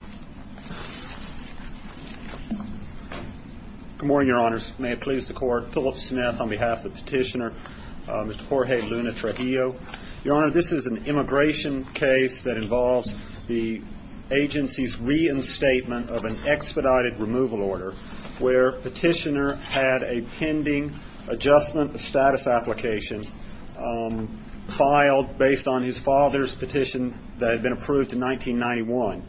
Good morning, Your Honors. May it please the Court, Philip Smith on behalf of the Petitioner, Mr. Jorge Luna-Trujillo. Your Honor, this is an immigration case that involves the agency's reinstatement of an expedited removal order where Petitioner had a pending adjustment of status application filed based on his father's petition that had been approved in 1991,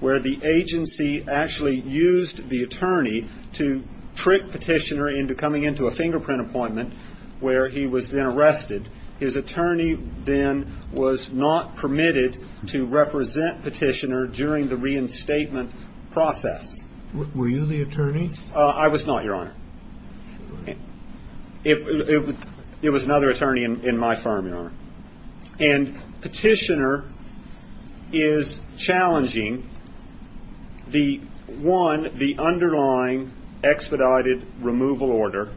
where the agency actually used the attorney to trick Petitioner into coming into a fingerprint appointment where he was then arrested. His attorney then was not permitted to represent Petitioner during the reinstatement process. Were you the attorney? I was not, Your Honor. It was another attorney in my firm, Your Honor. And Petitioner is challenging, one, the underlying expedited removal order,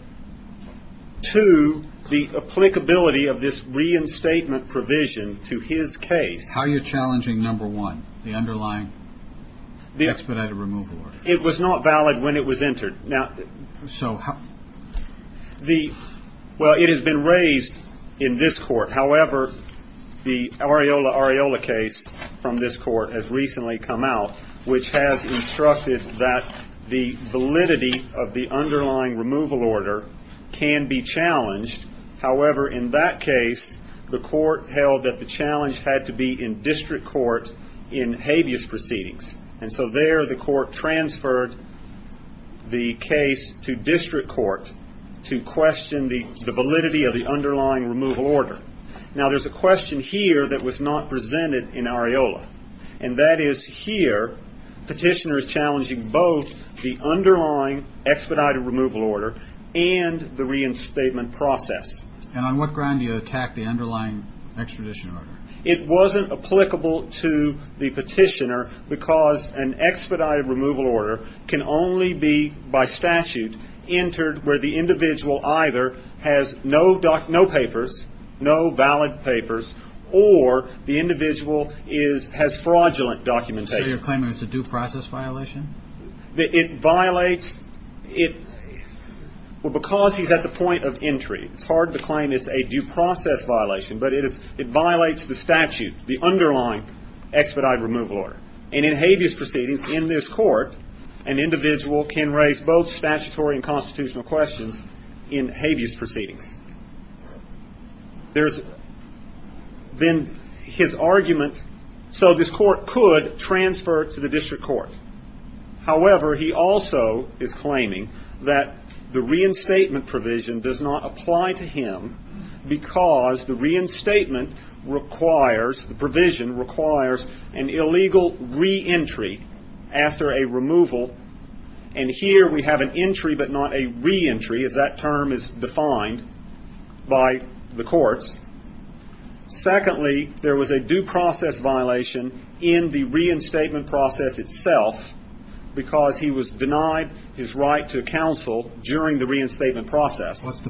two, the applicability of this reinstatement provision to his case. How are you challenging, number one, the underlying expedited removal order? It was not valid when it was entered. Well, it has been raised in this Court. However, the Areola-Areola case from this Court has recently come out, which has instructed that the validity of the underlying removal order can be challenged. However, in that case, the Court held that the challenge had to be in district court in habeas proceedings. And so there, the Court transferred the case to district court to question the validity of the underlying removal order. Now, there is a question here that was not presented in Areola. And that is, here, Petitioner is challenging both the underlying expedited removal order and the reinstatement process. And on what ground do you attack the underlying extradition order? It wasn't applicable to the Petitioner because an expedited removal order can only be, by statute, entered where the individual either has no papers, no valid papers, or the individual is, has fraudulent documentation. So you're claiming it's a due process violation? It violates, it, well, because he's at the point of entry. It's because it violates the statute, the underlying expedited removal order. And in habeas proceedings, in this Court, an individual can raise both statutory and constitutional questions in habeas proceedings. There's, then, his argument, so this Court could transfer it to the district court. However, he also is claiming that the reinstatement provision does not apply to him, because the reinstatement requires, the provision requires an illegal reentry after a removal. And here we have an entry, but not a reentry, as that term is defined by the courts. Secondly, there was a due process violation in the reinstatement process itself, because he was denied his right to counsel during the reinstatement process. What's the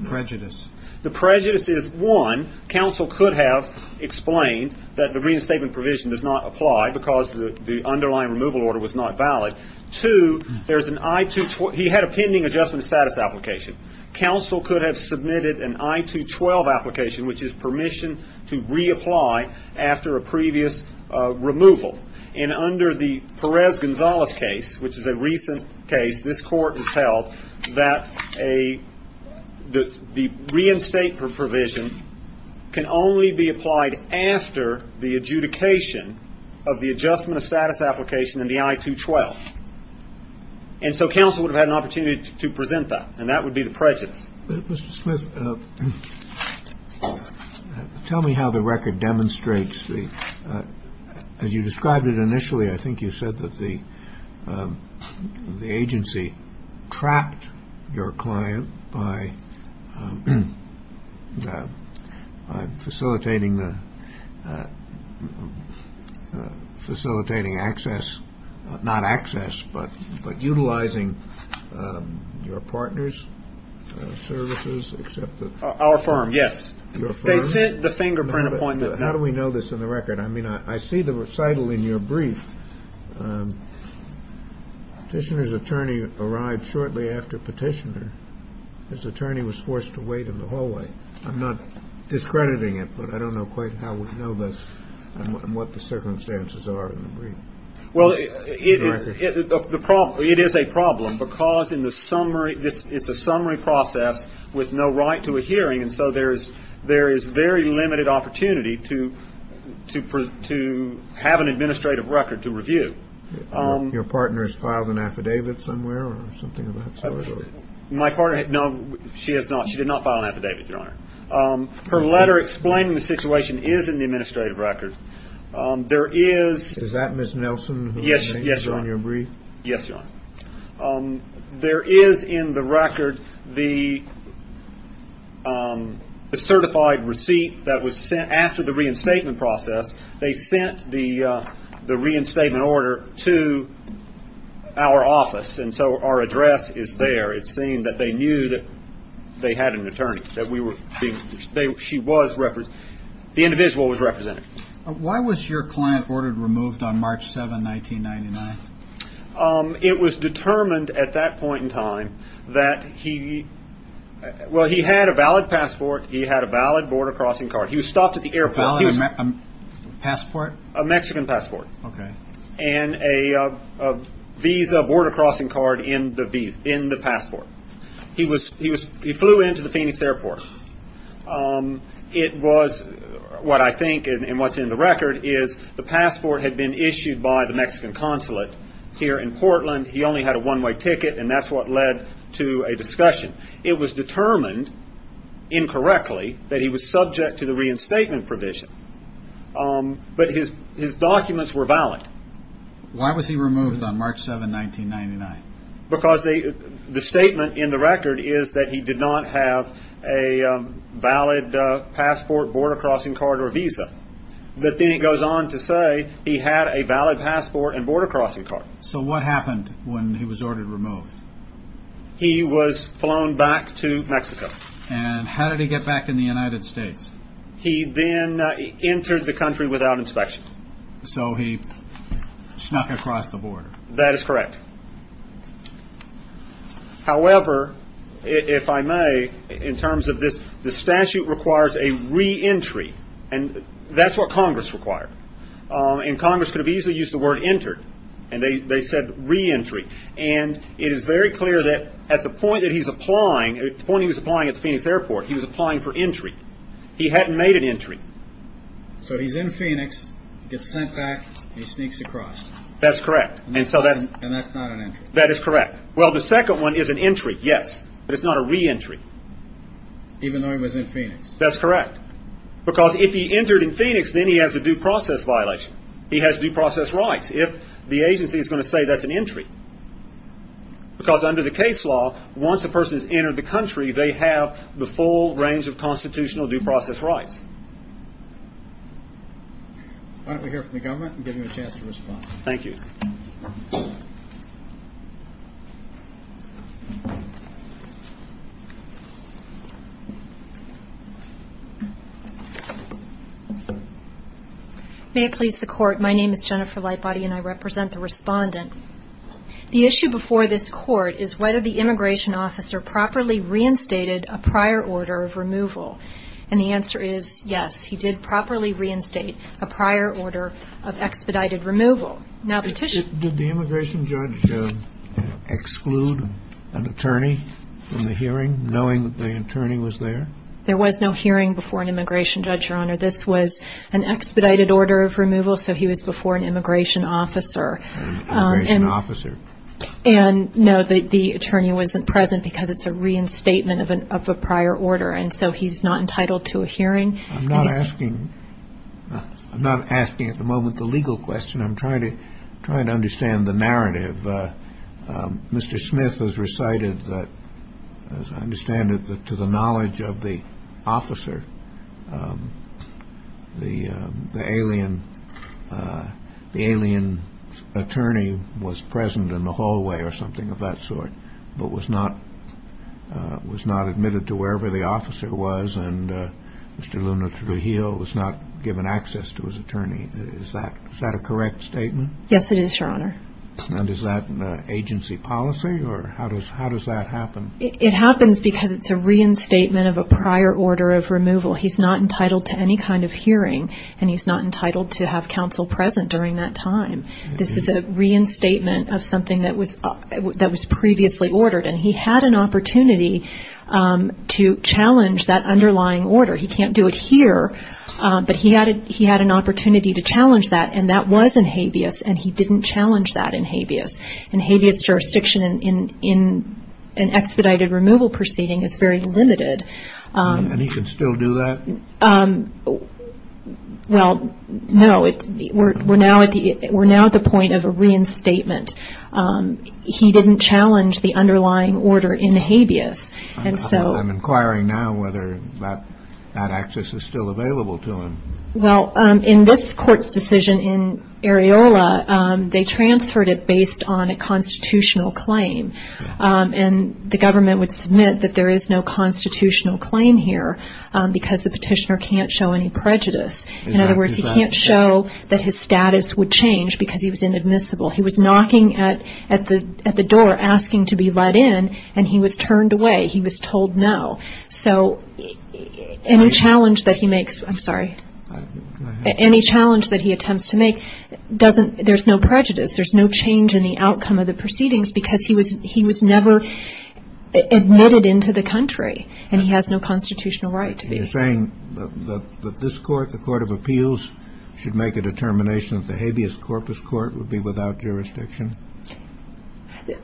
prejudice is, one, counsel could have explained that the reinstatement provision does not apply, because the underlying removal order was not valid. Two, there's an I-2-12, he had a pending adjustment of status application. Counsel could have submitted an I-2-12 application, which is permission to reapply after a previous removal. And under the Perez-Gonzalez case, which is a recent case, this Court has held that a, the reinstatement provision can only be applied after the adjudication of the adjustment of status application in the I-2-12. And so counsel would have had an opportunity to present that, and that would be the prejudice. Mr. Smith, tell me how the record demonstrates the, as you described it initially, I think you said that the agency trapped your client by facilitating the, facilitating access, not access, but utilizing your partner's services, except that... Our firm, yes. Your firm? They sent the fingerprint appointment. How do we know this in the record? I mean, I see the recital in your brief. Petitioner's attorney arrived shortly after Petitioner. His attorney was forced to wait in the hallway. I'm not discrediting it, but I don't know quite how we know this and what the circumstances are in the brief. Well, it is a problem, because in the summary, it's a summary process with no right to a to have an administrative record to review. Your partner has filed an affidavit somewhere, or something of that sort? My partner, no, she has not. She did not file an affidavit, Your Honor. Her letter explaining the situation is in the administrative record. There is... Is that Ms. Nelson who's name is on your brief? Yes, Your Honor. There is in the record the certified receipt that was sent after the reinstatement process. They sent the reinstatement order to our office, and so our address is there. It seemed that they knew that they had an attorney, that we were... She was... The individual was represented. Why was your client ordered removed on March 7, 1999? It was determined at that point in time that he... Well, he had a valid passport. He had a valid border crossing card. He was stopped at the airport. A valid passport? A Mexican passport, and a visa border crossing card in the passport. He flew into the Phoenix airport. It was, what I think, and what's in the record, is the passport had been issued by the Mexican consulate here in Portland. He only had a one-way ticket, and that's what led to a discussion. It was determined incorrectly that he was subject to the reinstatement provision, but his documents were valid. Why was he removed on March 7, 1999? Because the statement in the record is that he did not have a valid passport, border crossing card, or visa. But then it goes on to say he had a valid passport and border crossing card. So what happened when he was ordered removed? He was flown back to Mexico. And how did he get back in the United States? He then entered the country without inspection. So he snuck across the border. That is correct. However, if I may, in terms of this, the statute requires a reentry, and that's what Congress required. And Congress could have easily used the word entered, and they said reentry. And it is very clear that at the point that he was applying at the Phoenix airport, he was applying for entry. He hadn't made an entry. So he's in Phoenix, gets sent back, and he sneaks across. That's correct. And that's not an entry. That is correct. Well, the second one is an entry, yes, but it's not a reentry. Even though he was in Phoenix. That's correct. Because if he entered in Phoenix, then he has a due process violation. He has due process rights if the agency is going to say that's an entry. Because under the case law, once a person has entered the country, they have the full range of constitutional due process rights. Why don't we hear from the government and give them a chance to respond. Thank you. May it please the court, my name is Jennifer Lightbody, and I represent the respondent. The issue before this court is whether the immigration officer properly reinstated a prior order of removal. And the answer is yes, he did properly reinstate a prior order of expedited removal. Did the immigration judge exclude an attorney from the hearing, knowing that the attorney was there? There was no hearing before an immigration judge, Your Honor. This was an expedited order of removal, so he was before an immigration officer. An immigration officer. And no, the attorney wasn't present because it's a reinstatement of a prior order. And so he's not entitled to a hearing. I'm not asking at the moment the legal question. I'm trying to understand the narrative. Mr. Smith has recited that, as I understand it, to the knowledge of the officer, the alien attorney was present in the hallway or something of that sort, but was not admitted to wherever the officer was, and Mr. Luna Trujillo was not given access to his attorney. Is that a correct statement? Yes, it is, Your Honor. And is that an agency policy, or how does that happen? It happens because it's a reinstatement of a prior order of removal. He's not entitled to any kind of hearing, and he's not entitled to have counsel present during that time. This is a reinstatement of something that was previously ordered, and he had an opportunity to challenge that underlying order. He can't do it here, but he had an opportunity to challenge that, and that was in Habeas, and he didn't challenge that in Habeas. In Habeas jurisdiction, in an expedited removal proceeding, it's very limited. And he can still do that? Well, no. We're now at the point of a reinstatement. He didn't challenge the underlying order in Habeas. I'm inquiring now whether that access is still available to him. Well, in this court's decision in Areola, they transferred it based on a constitutional claim, and the government would submit that there is no constitutional claim here because the petitioner can't show any prejudice. In other words, he can't show that his status would change because he was inadmissible. He was knocking at the door asking to be let in, and he was turned away. He was told no. So any challenge that he makes, I'm sorry, any challenge that he attempts to make, there's no prejudice. There's no change in the outcome of the proceedings because he was never admitted into the country, and he has no constitutional right to be. You're saying that this court, the Court of Appeals, should make a determination that the Habeas corpus court would be without jurisdiction?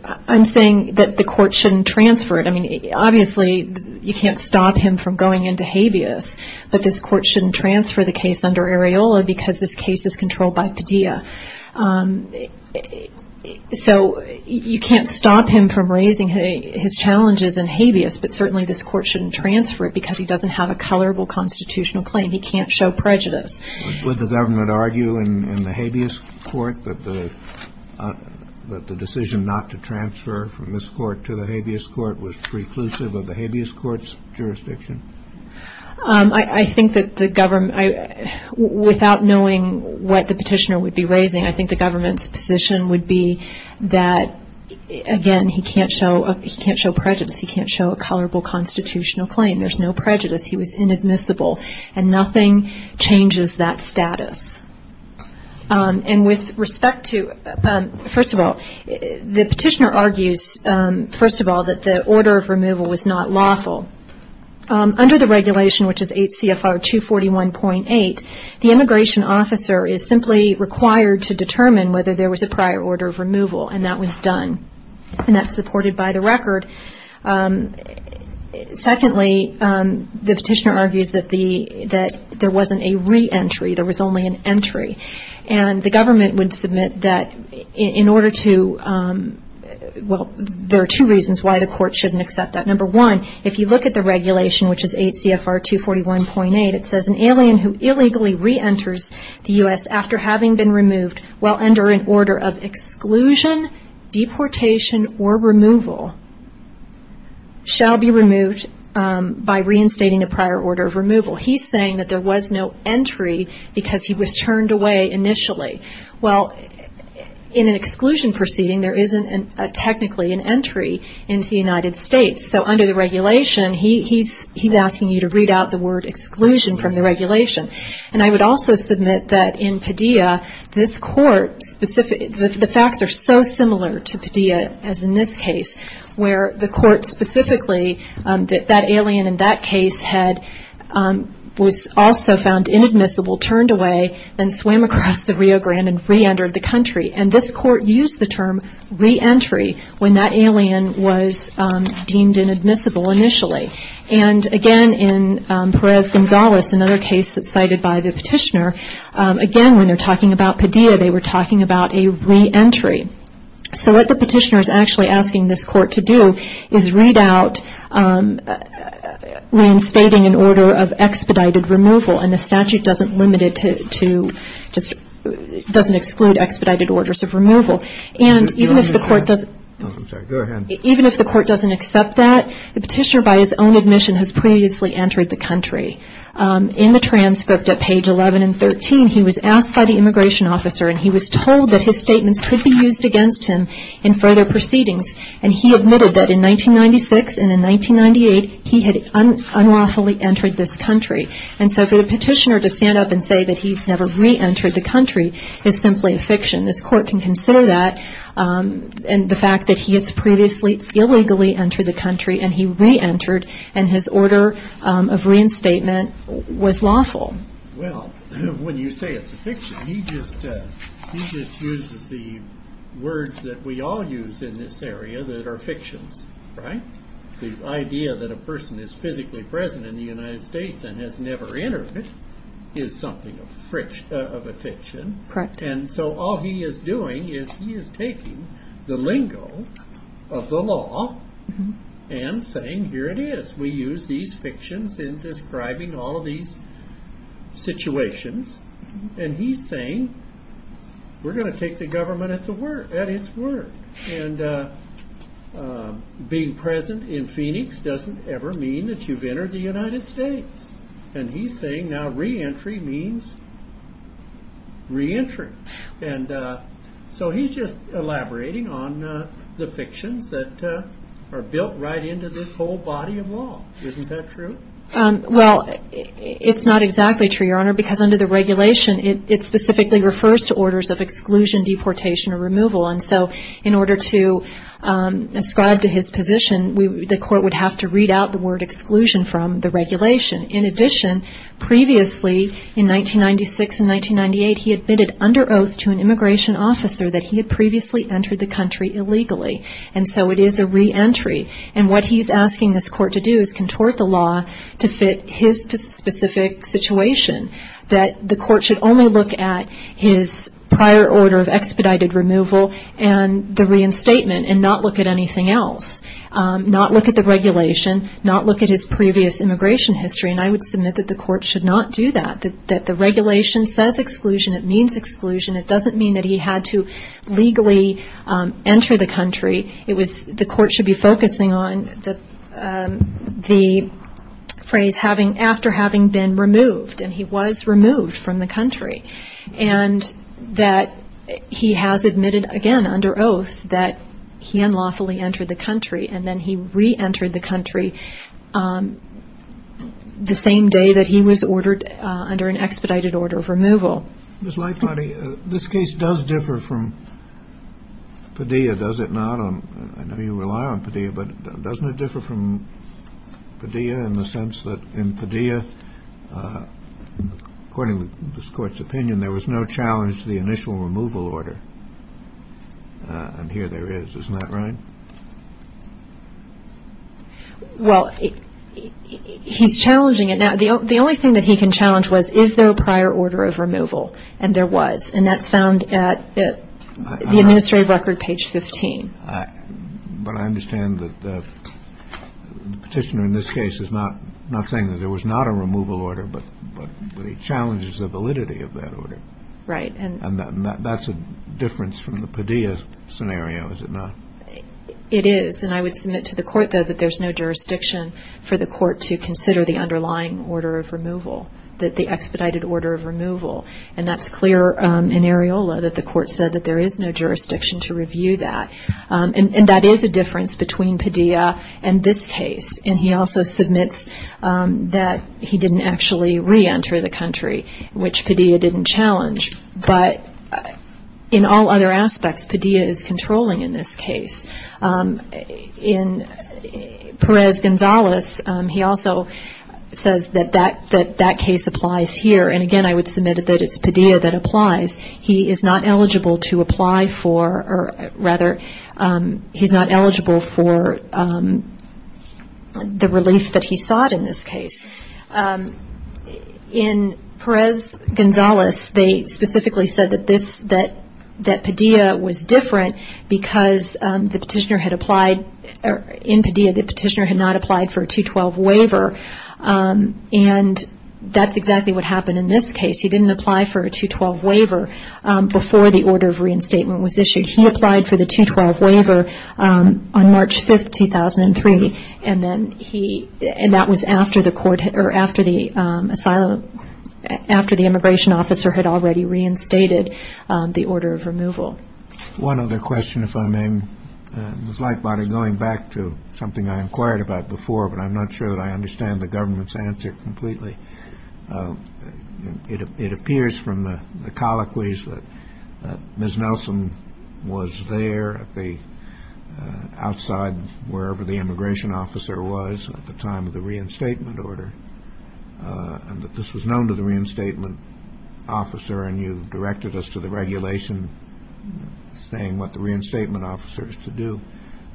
I'm saying that the court shouldn't transfer it. I mean, obviously, you can't stop him from going into Habeas, but this court shouldn't transfer the case under Areola because this case is controlled by Padilla. So you can't stop him from raising his challenges in Habeas, but certainly this court shouldn't transfer it because he doesn't have a colorable constitutional claim. He can't show prejudice. Would the government argue in the Habeas court that the decision not to transfer from this court to the Habeas court was preclusive of the Habeas court's jurisdiction? I think that the government, without knowing what the petitioner would be raising, I think the government's position would be that, again, he can't show prejudice. He can't show a colorable constitutional claim. There's no prejudice. He was inadmissible, and nothing changes that status. And with respect to, first of all, the petitioner argues, first of all, that the order of removal was not lawful. Under the regulation, which is 8 CFR 241.8, the immigration officer is simply required to determine whether there was a prior order of removal, and that was done. And that's supported by the record. Secondly, the petitioner argues that there wasn't a re-entry. There was only an entry. And the government would submit that in order to, well, there are two reasons why the court shouldn't accept that. Number one, if you look at the regulation, which is 8 CFR 241.8, it says an alien who illegally re-enters the U.S. after having been removed, while under an order of exclusion, deportation, or removal, shall be removed by reinstating a prior order of removal. He's saying that there was no entry because he was turned away initially. Well, in an exclusion proceeding, there isn't technically an entry into the United States. So under the regulation, he's asking you to read out the word exclusion from the regulation. And I would also submit that in Padilla, this court, the facts are so similar to Padilla as in this case, where the court specifically that that alien in that case was also found inadmissible, turned away, then swam across the Rio Grande and re-entered the country. And this court used the term re-entry when that alien was deemed inadmissible initially. And again, in Perez-Gonzalez, another case that's cited by the petitioner, again, when they're talking about Padilla, they were talking about a re-entry. So what the petitioner is actually asking this court to do is read out reinstating an order of expedited removal. And the statute doesn't limit it to just doesn't exclude expedited orders of removal. And even if the court doesn't... No, I'm sorry. Go ahead. Even if the court doesn't accept that, the petitioner by his own admission has previously entered the country. In the transcript at page 11 and 13, he was asked by the immigration officer and he was told that his statements could be used against him in further proceedings. And he admitted that in 1996 and in 1998, he had unlawfully entered this country. And so for the petitioner to stand up and say that he's never re-entered the country is simply a fiction. This court can consider that. And the fact that he has previously illegally entered the country and he re-entered, and his order of reinstatement was lawful. Well, when you say it's a fiction, he just uses the words that we all use in this area that are fictions, right? The idea that a person is physically present in the United States and has never entered it is something of a fiction. Correct. And so all he is doing is he is taking the lingo of the law and saying, here it is. We use these fictions in describing all of these situations. And he's saying, we're going to take the government at its word. And being present in Phoenix doesn't ever mean that we've entered the United States. And he's saying now re-entry means re-entering. And so he's just elaborating on the fictions that are built right into this whole body of law. Isn't that true? Well, it's not exactly true, Your Honor, because under the regulation, it specifically refers to orders of exclusion, deportation, or removal. And so in order to ascribe to his position, the court would have to read out the word exclusion from the regulation. In addition, previously, in 1996 and 1998, he admitted under oath to an immigration officer that he had previously entered the country illegally. And so it is a re-entry. And what he's asking this court to do is contort the law to fit his specific situation, that the court should only look at his prior order of expedited removal and the reinstatement and not look at anything else, not look at the regulation, not look at his previous immigration history. And I would submit that the court should not do that, that the regulation says exclusion. It means exclusion. It doesn't mean that he had to legally enter the country. The court should be focusing on the phrase after having been removed. And he was removed from the country, but he successfully entered the country, and then he re-entered the country the same day that he was ordered under an expedited order of removal. Ms. Lightbody, this case does differ from Padilla, does it not? I know you rely on Padilla, but doesn't it differ from Padilla in the sense that in Padilla, according to this court's ruling, there was no prior order of removal, and here there is. Isn't that right? Well, he's challenging it now. The only thing that he can challenge was, is there a prior order of removal? And there was. And that's found at the administrative record, page 15. But I understand that the Petitioner in this case is not saying that there was not a removal order, but he challenges the validity of that order. Right. And that's a difference from the Padilla scenario, is it not? It is. And I would submit to the court, though, that there's no jurisdiction for the court to consider the underlying order of removal, the expedited order of removal. And that's clear in Areola that the court said that there is no jurisdiction to review that. And that there is a difference between Padilla and this case. And he also submits that he didn't actually reenter the country, which Padilla didn't challenge. But in all other aspects, Padilla is controlling in this case. In Perez-Gonzalez, he also says that that case applies here. And, again, I would submit that it's Padilla that applies. He is not eligible to apply for, or rather, he's not eligible for the relief that he sought in this case. In Perez-Gonzalez, they specifically said that this, that Padilla was different because the Petitioner had applied, in Padilla, the Petitioner had not applied for a 212 waiver. And that's exactly what happened in this case. He didn't apply for a 212 waiver before the order of reinstatement was issued. He applied for the 212 waiver on March 5th, 2003. And then he, and that was after the court, or after the asylum, after the immigration officer had already reinstated the order of removal. One other question, if I may. It was like going back to something I inquired about before, but I'm not sure that I understand the government's answer completely. It appears from the colloquies that Ms. Nelson was there at the, outside wherever the immigration officer was at the time of the reinstatement order, and that this was known to the reinstatement officer, and you directed us to the regulation saying what the reinstatement officer is to do.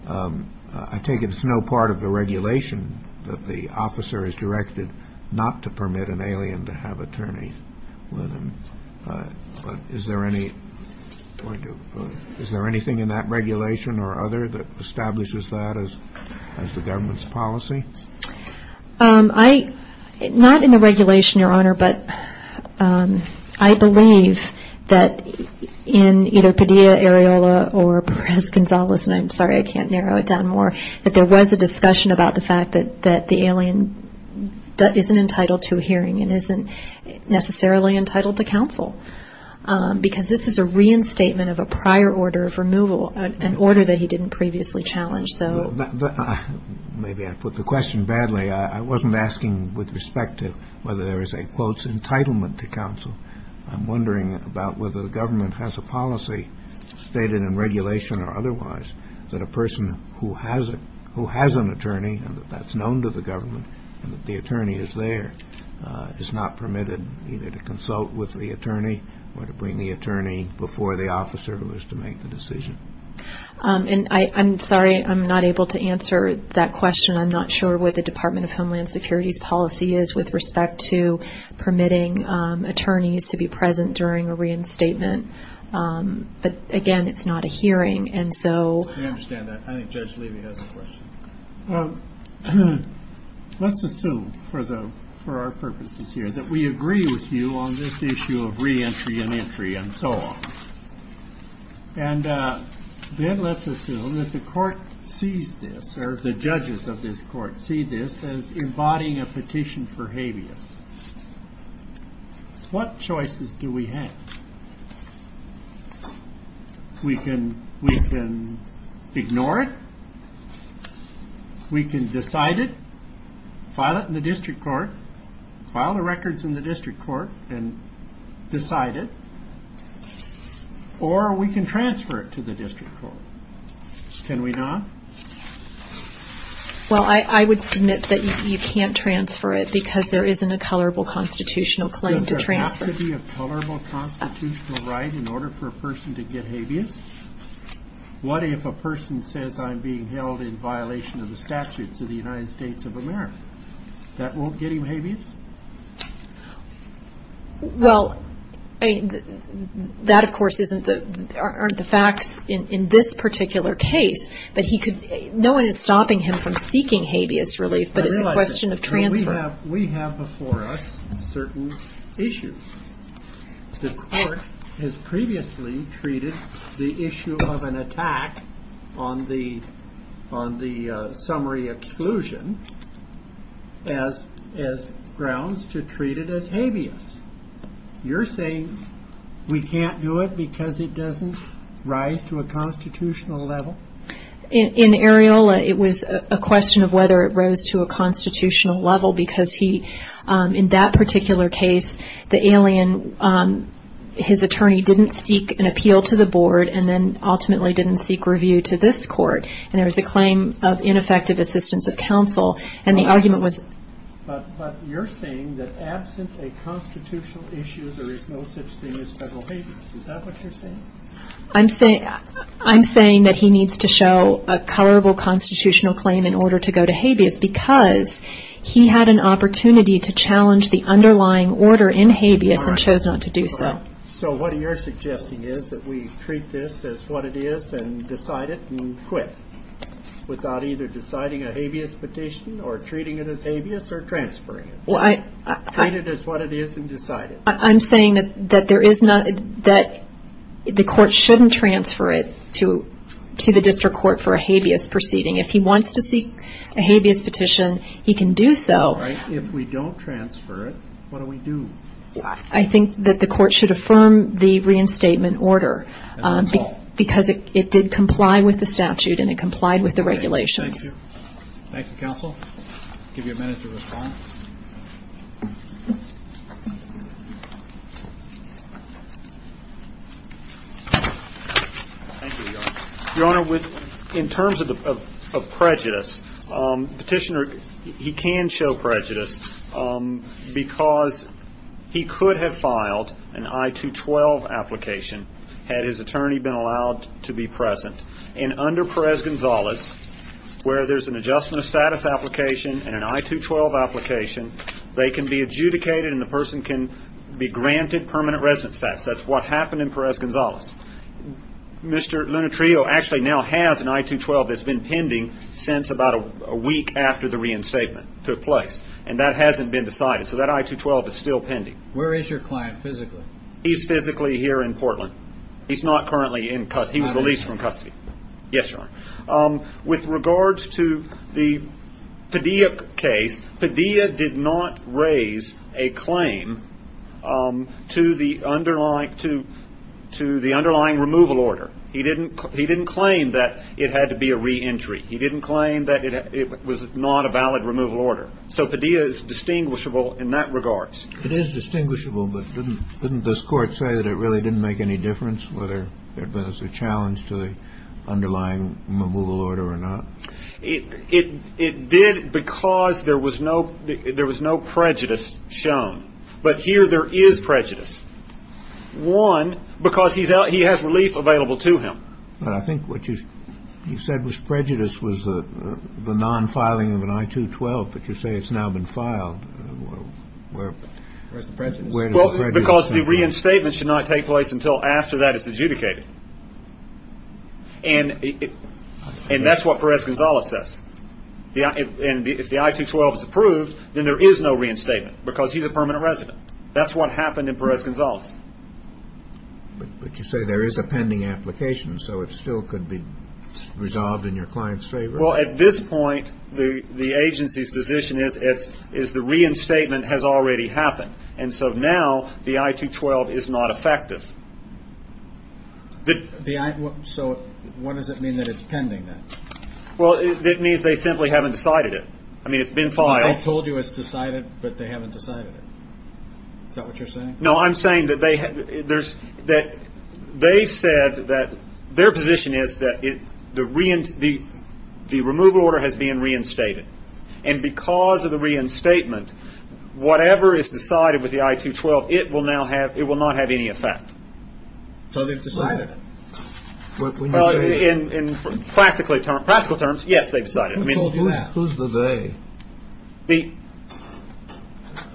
I take it it's no part of the regulation that the officer is directed not to permit an alien to have attorneys with him. But is there any, is there anything in that regulation or other that establishes that as the government's policy? I, not in the regulation, Your Honor, but I believe that in either Padilla, Areola, or Perez-Gonzalez, and I'm sorry I can't narrow it down more, that there was a discussion about the fact that the alien isn't entitled to a hearing and isn't necessarily entitled to counsel. Because this is a reinstatement of a prior order of removal, an order that he didn't previously challenge. Maybe I put the question badly. I wasn't asking with respect to whether there is a, quote, stated in regulation or otherwise that a person who has an attorney and that that's known to the government and that the attorney is there is not permitted either to consult with the attorney or to bring the attorney before the officer who is to make the decision. And I'm sorry I'm not able to answer that question. I'm not sure what the Department of Homeland Security's policy is with respect to permitting attorneys to be present during a reinstatement. But, again, it's not a hearing. And so... I understand that. I think Judge Levy has a question. Let's assume for our purposes here that we agree with you on this issue of reentry and entry and so on. And then let's assume that the court sees this or the judges of this court see this as embodying a petition for habeas. What choices do we have? We can ignore it. We can decide it. File it in the district court. File the records in the district court and decide it. Or we can transfer it to the district court. Can we not? Well, I would submit that you can't transfer it because there isn't a colorable constitutional claim to transfer. Does there have to be a colorable constitutional right in order for a person to get habeas? What if a person says I'm being held in violation of the statutes of the United States of America? That won't get him habeas? Well, that, of course, aren't the facts in this particular case. No one is stopping him from seeking habeas relief, but it's a question of transfer. We have before us certain issues. The court has previously treated the issue of an attack on the summary exclusion as grounds to treat it as habeas. You're saying we can't do it because it doesn't rise to a constitutional level? In Areola, it was a question of whether it rose to a constitutional level because he, in that particular case, the alien, his attorney didn't seek an appeal to the board and then ultimately didn't seek review to this court, and there was a claim of ineffective assistance of counsel, and the argument was... But you're saying that absent a constitutional issue, there is no such thing as federal habeas. Is that what you're saying? I'm saying that he needs to show a colorable constitutional claim in order to go to habeas because he had an opportunity to challenge the underlying order in habeas and chose not to do so. So what you're suggesting is that we treat this as what it is and decide it and quit without either deciding a habeas petition or treating it as habeas or transferring it? Treat it as what it is and decide it. I'm saying that the court shouldn't transfer it to the district court for a habeas proceeding. If he wants to seek a habeas petition, he can do so. If we don't transfer it, what do we do? I think that the court should affirm the reinstatement order because it did comply with the statute and it complied with the regulations. Thank you. Thank you, counsel. I'll give you a minute to respond. Your Honor, in terms of prejudice, petitioner, he can show prejudice because he could have filed an I-212 application had his attorney been allowed to be present. And under Perez-Gonzalez, where there's an adjustment of status application and an I-212 application, they can be adjudicated and the person can be granted permanent residence status. That's what happened in Perez-Gonzalez. Mr. Lunatrio actually now has an I-212 that's been pending since about a week after the reinstatement took place. And that hasn't been decided. So that I-212 is still pending. Where is your client physically? He's physically here in Portland. He's not currently in custody. He was released from custody. Yes, Your Honor. With regards to the Padilla case, Padilla did not raise a claim to the underlying removal order. He didn't claim that it had to be a reentry. He didn't claim that it was not a valid removal order. So Padilla is distinguishable in that regard. It is distinguishable, but didn't this Court say that it really didn't make any difference whether there was a challenge to the underlying removal order or not? It did because there was no prejudice shown. But here there is prejudice. One, because he has relief available to him. But I think what you said was prejudice was the non-filing of an I-212, but you say it's now been filed. Where is the prejudice? Because the reinstatement should not take place until after that is adjudicated. And that's what Perez-Gonzalez says. And if the I-212 is approved, then there is no reinstatement because he's a permanent resident. That's what happened in Perez-Gonzalez. But you say there is a pending application, so it still could be resolved in your client's favor? Well, at this point, the agency's position is the reinstatement has already happened. And so now the I-212 is not effective. So what does it mean that it's pending then? Well, it means they simply haven't decided it. I mean, it's been filed. I told you it's decided, but they haven't decided it. Is that what you're saying? No, I'm saying that they said that their position is that the removal order has been reinstated. And because of the reinstatement, whatever is decided with the I-212, it will not have any effect. So they've decided it? In practical terms, yes, they've decided it. Who told you that? Who's the they?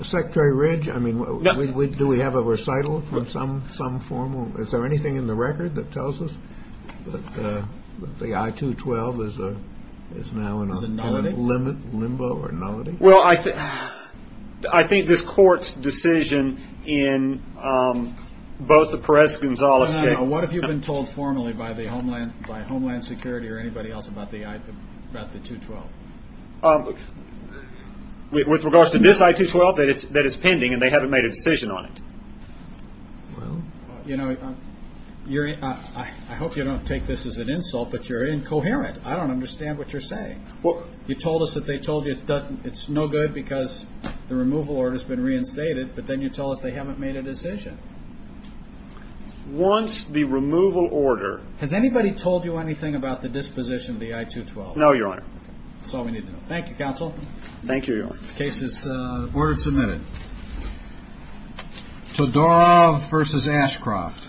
Secretary Ridge, do we have a recital from some form? Is there anything in the record that tells us that the I-212 is now in a limbo or nullity? Well, I think this court's decision in both the Perez-Gonzalez case What have you been told formally by Homeland Security or anybody else about the I-212? With regards to this I-212, that it's pending and they haven't made a decision on it. Well, you know, I hope you don't take this as an insult, but you're incoherent. I don't understand what you're saying. You told us that they told you it's no good because the removal order has been reinstated, but then you tell us they haven't made a decision. Once the removal order Has anybody told you anything about the disposition of the I-212? No, Your Honor. That's all we need to know. Thank you, Counsel. Thank you, Your Honor. The case is order submitted. Todorov v. Ashcroft.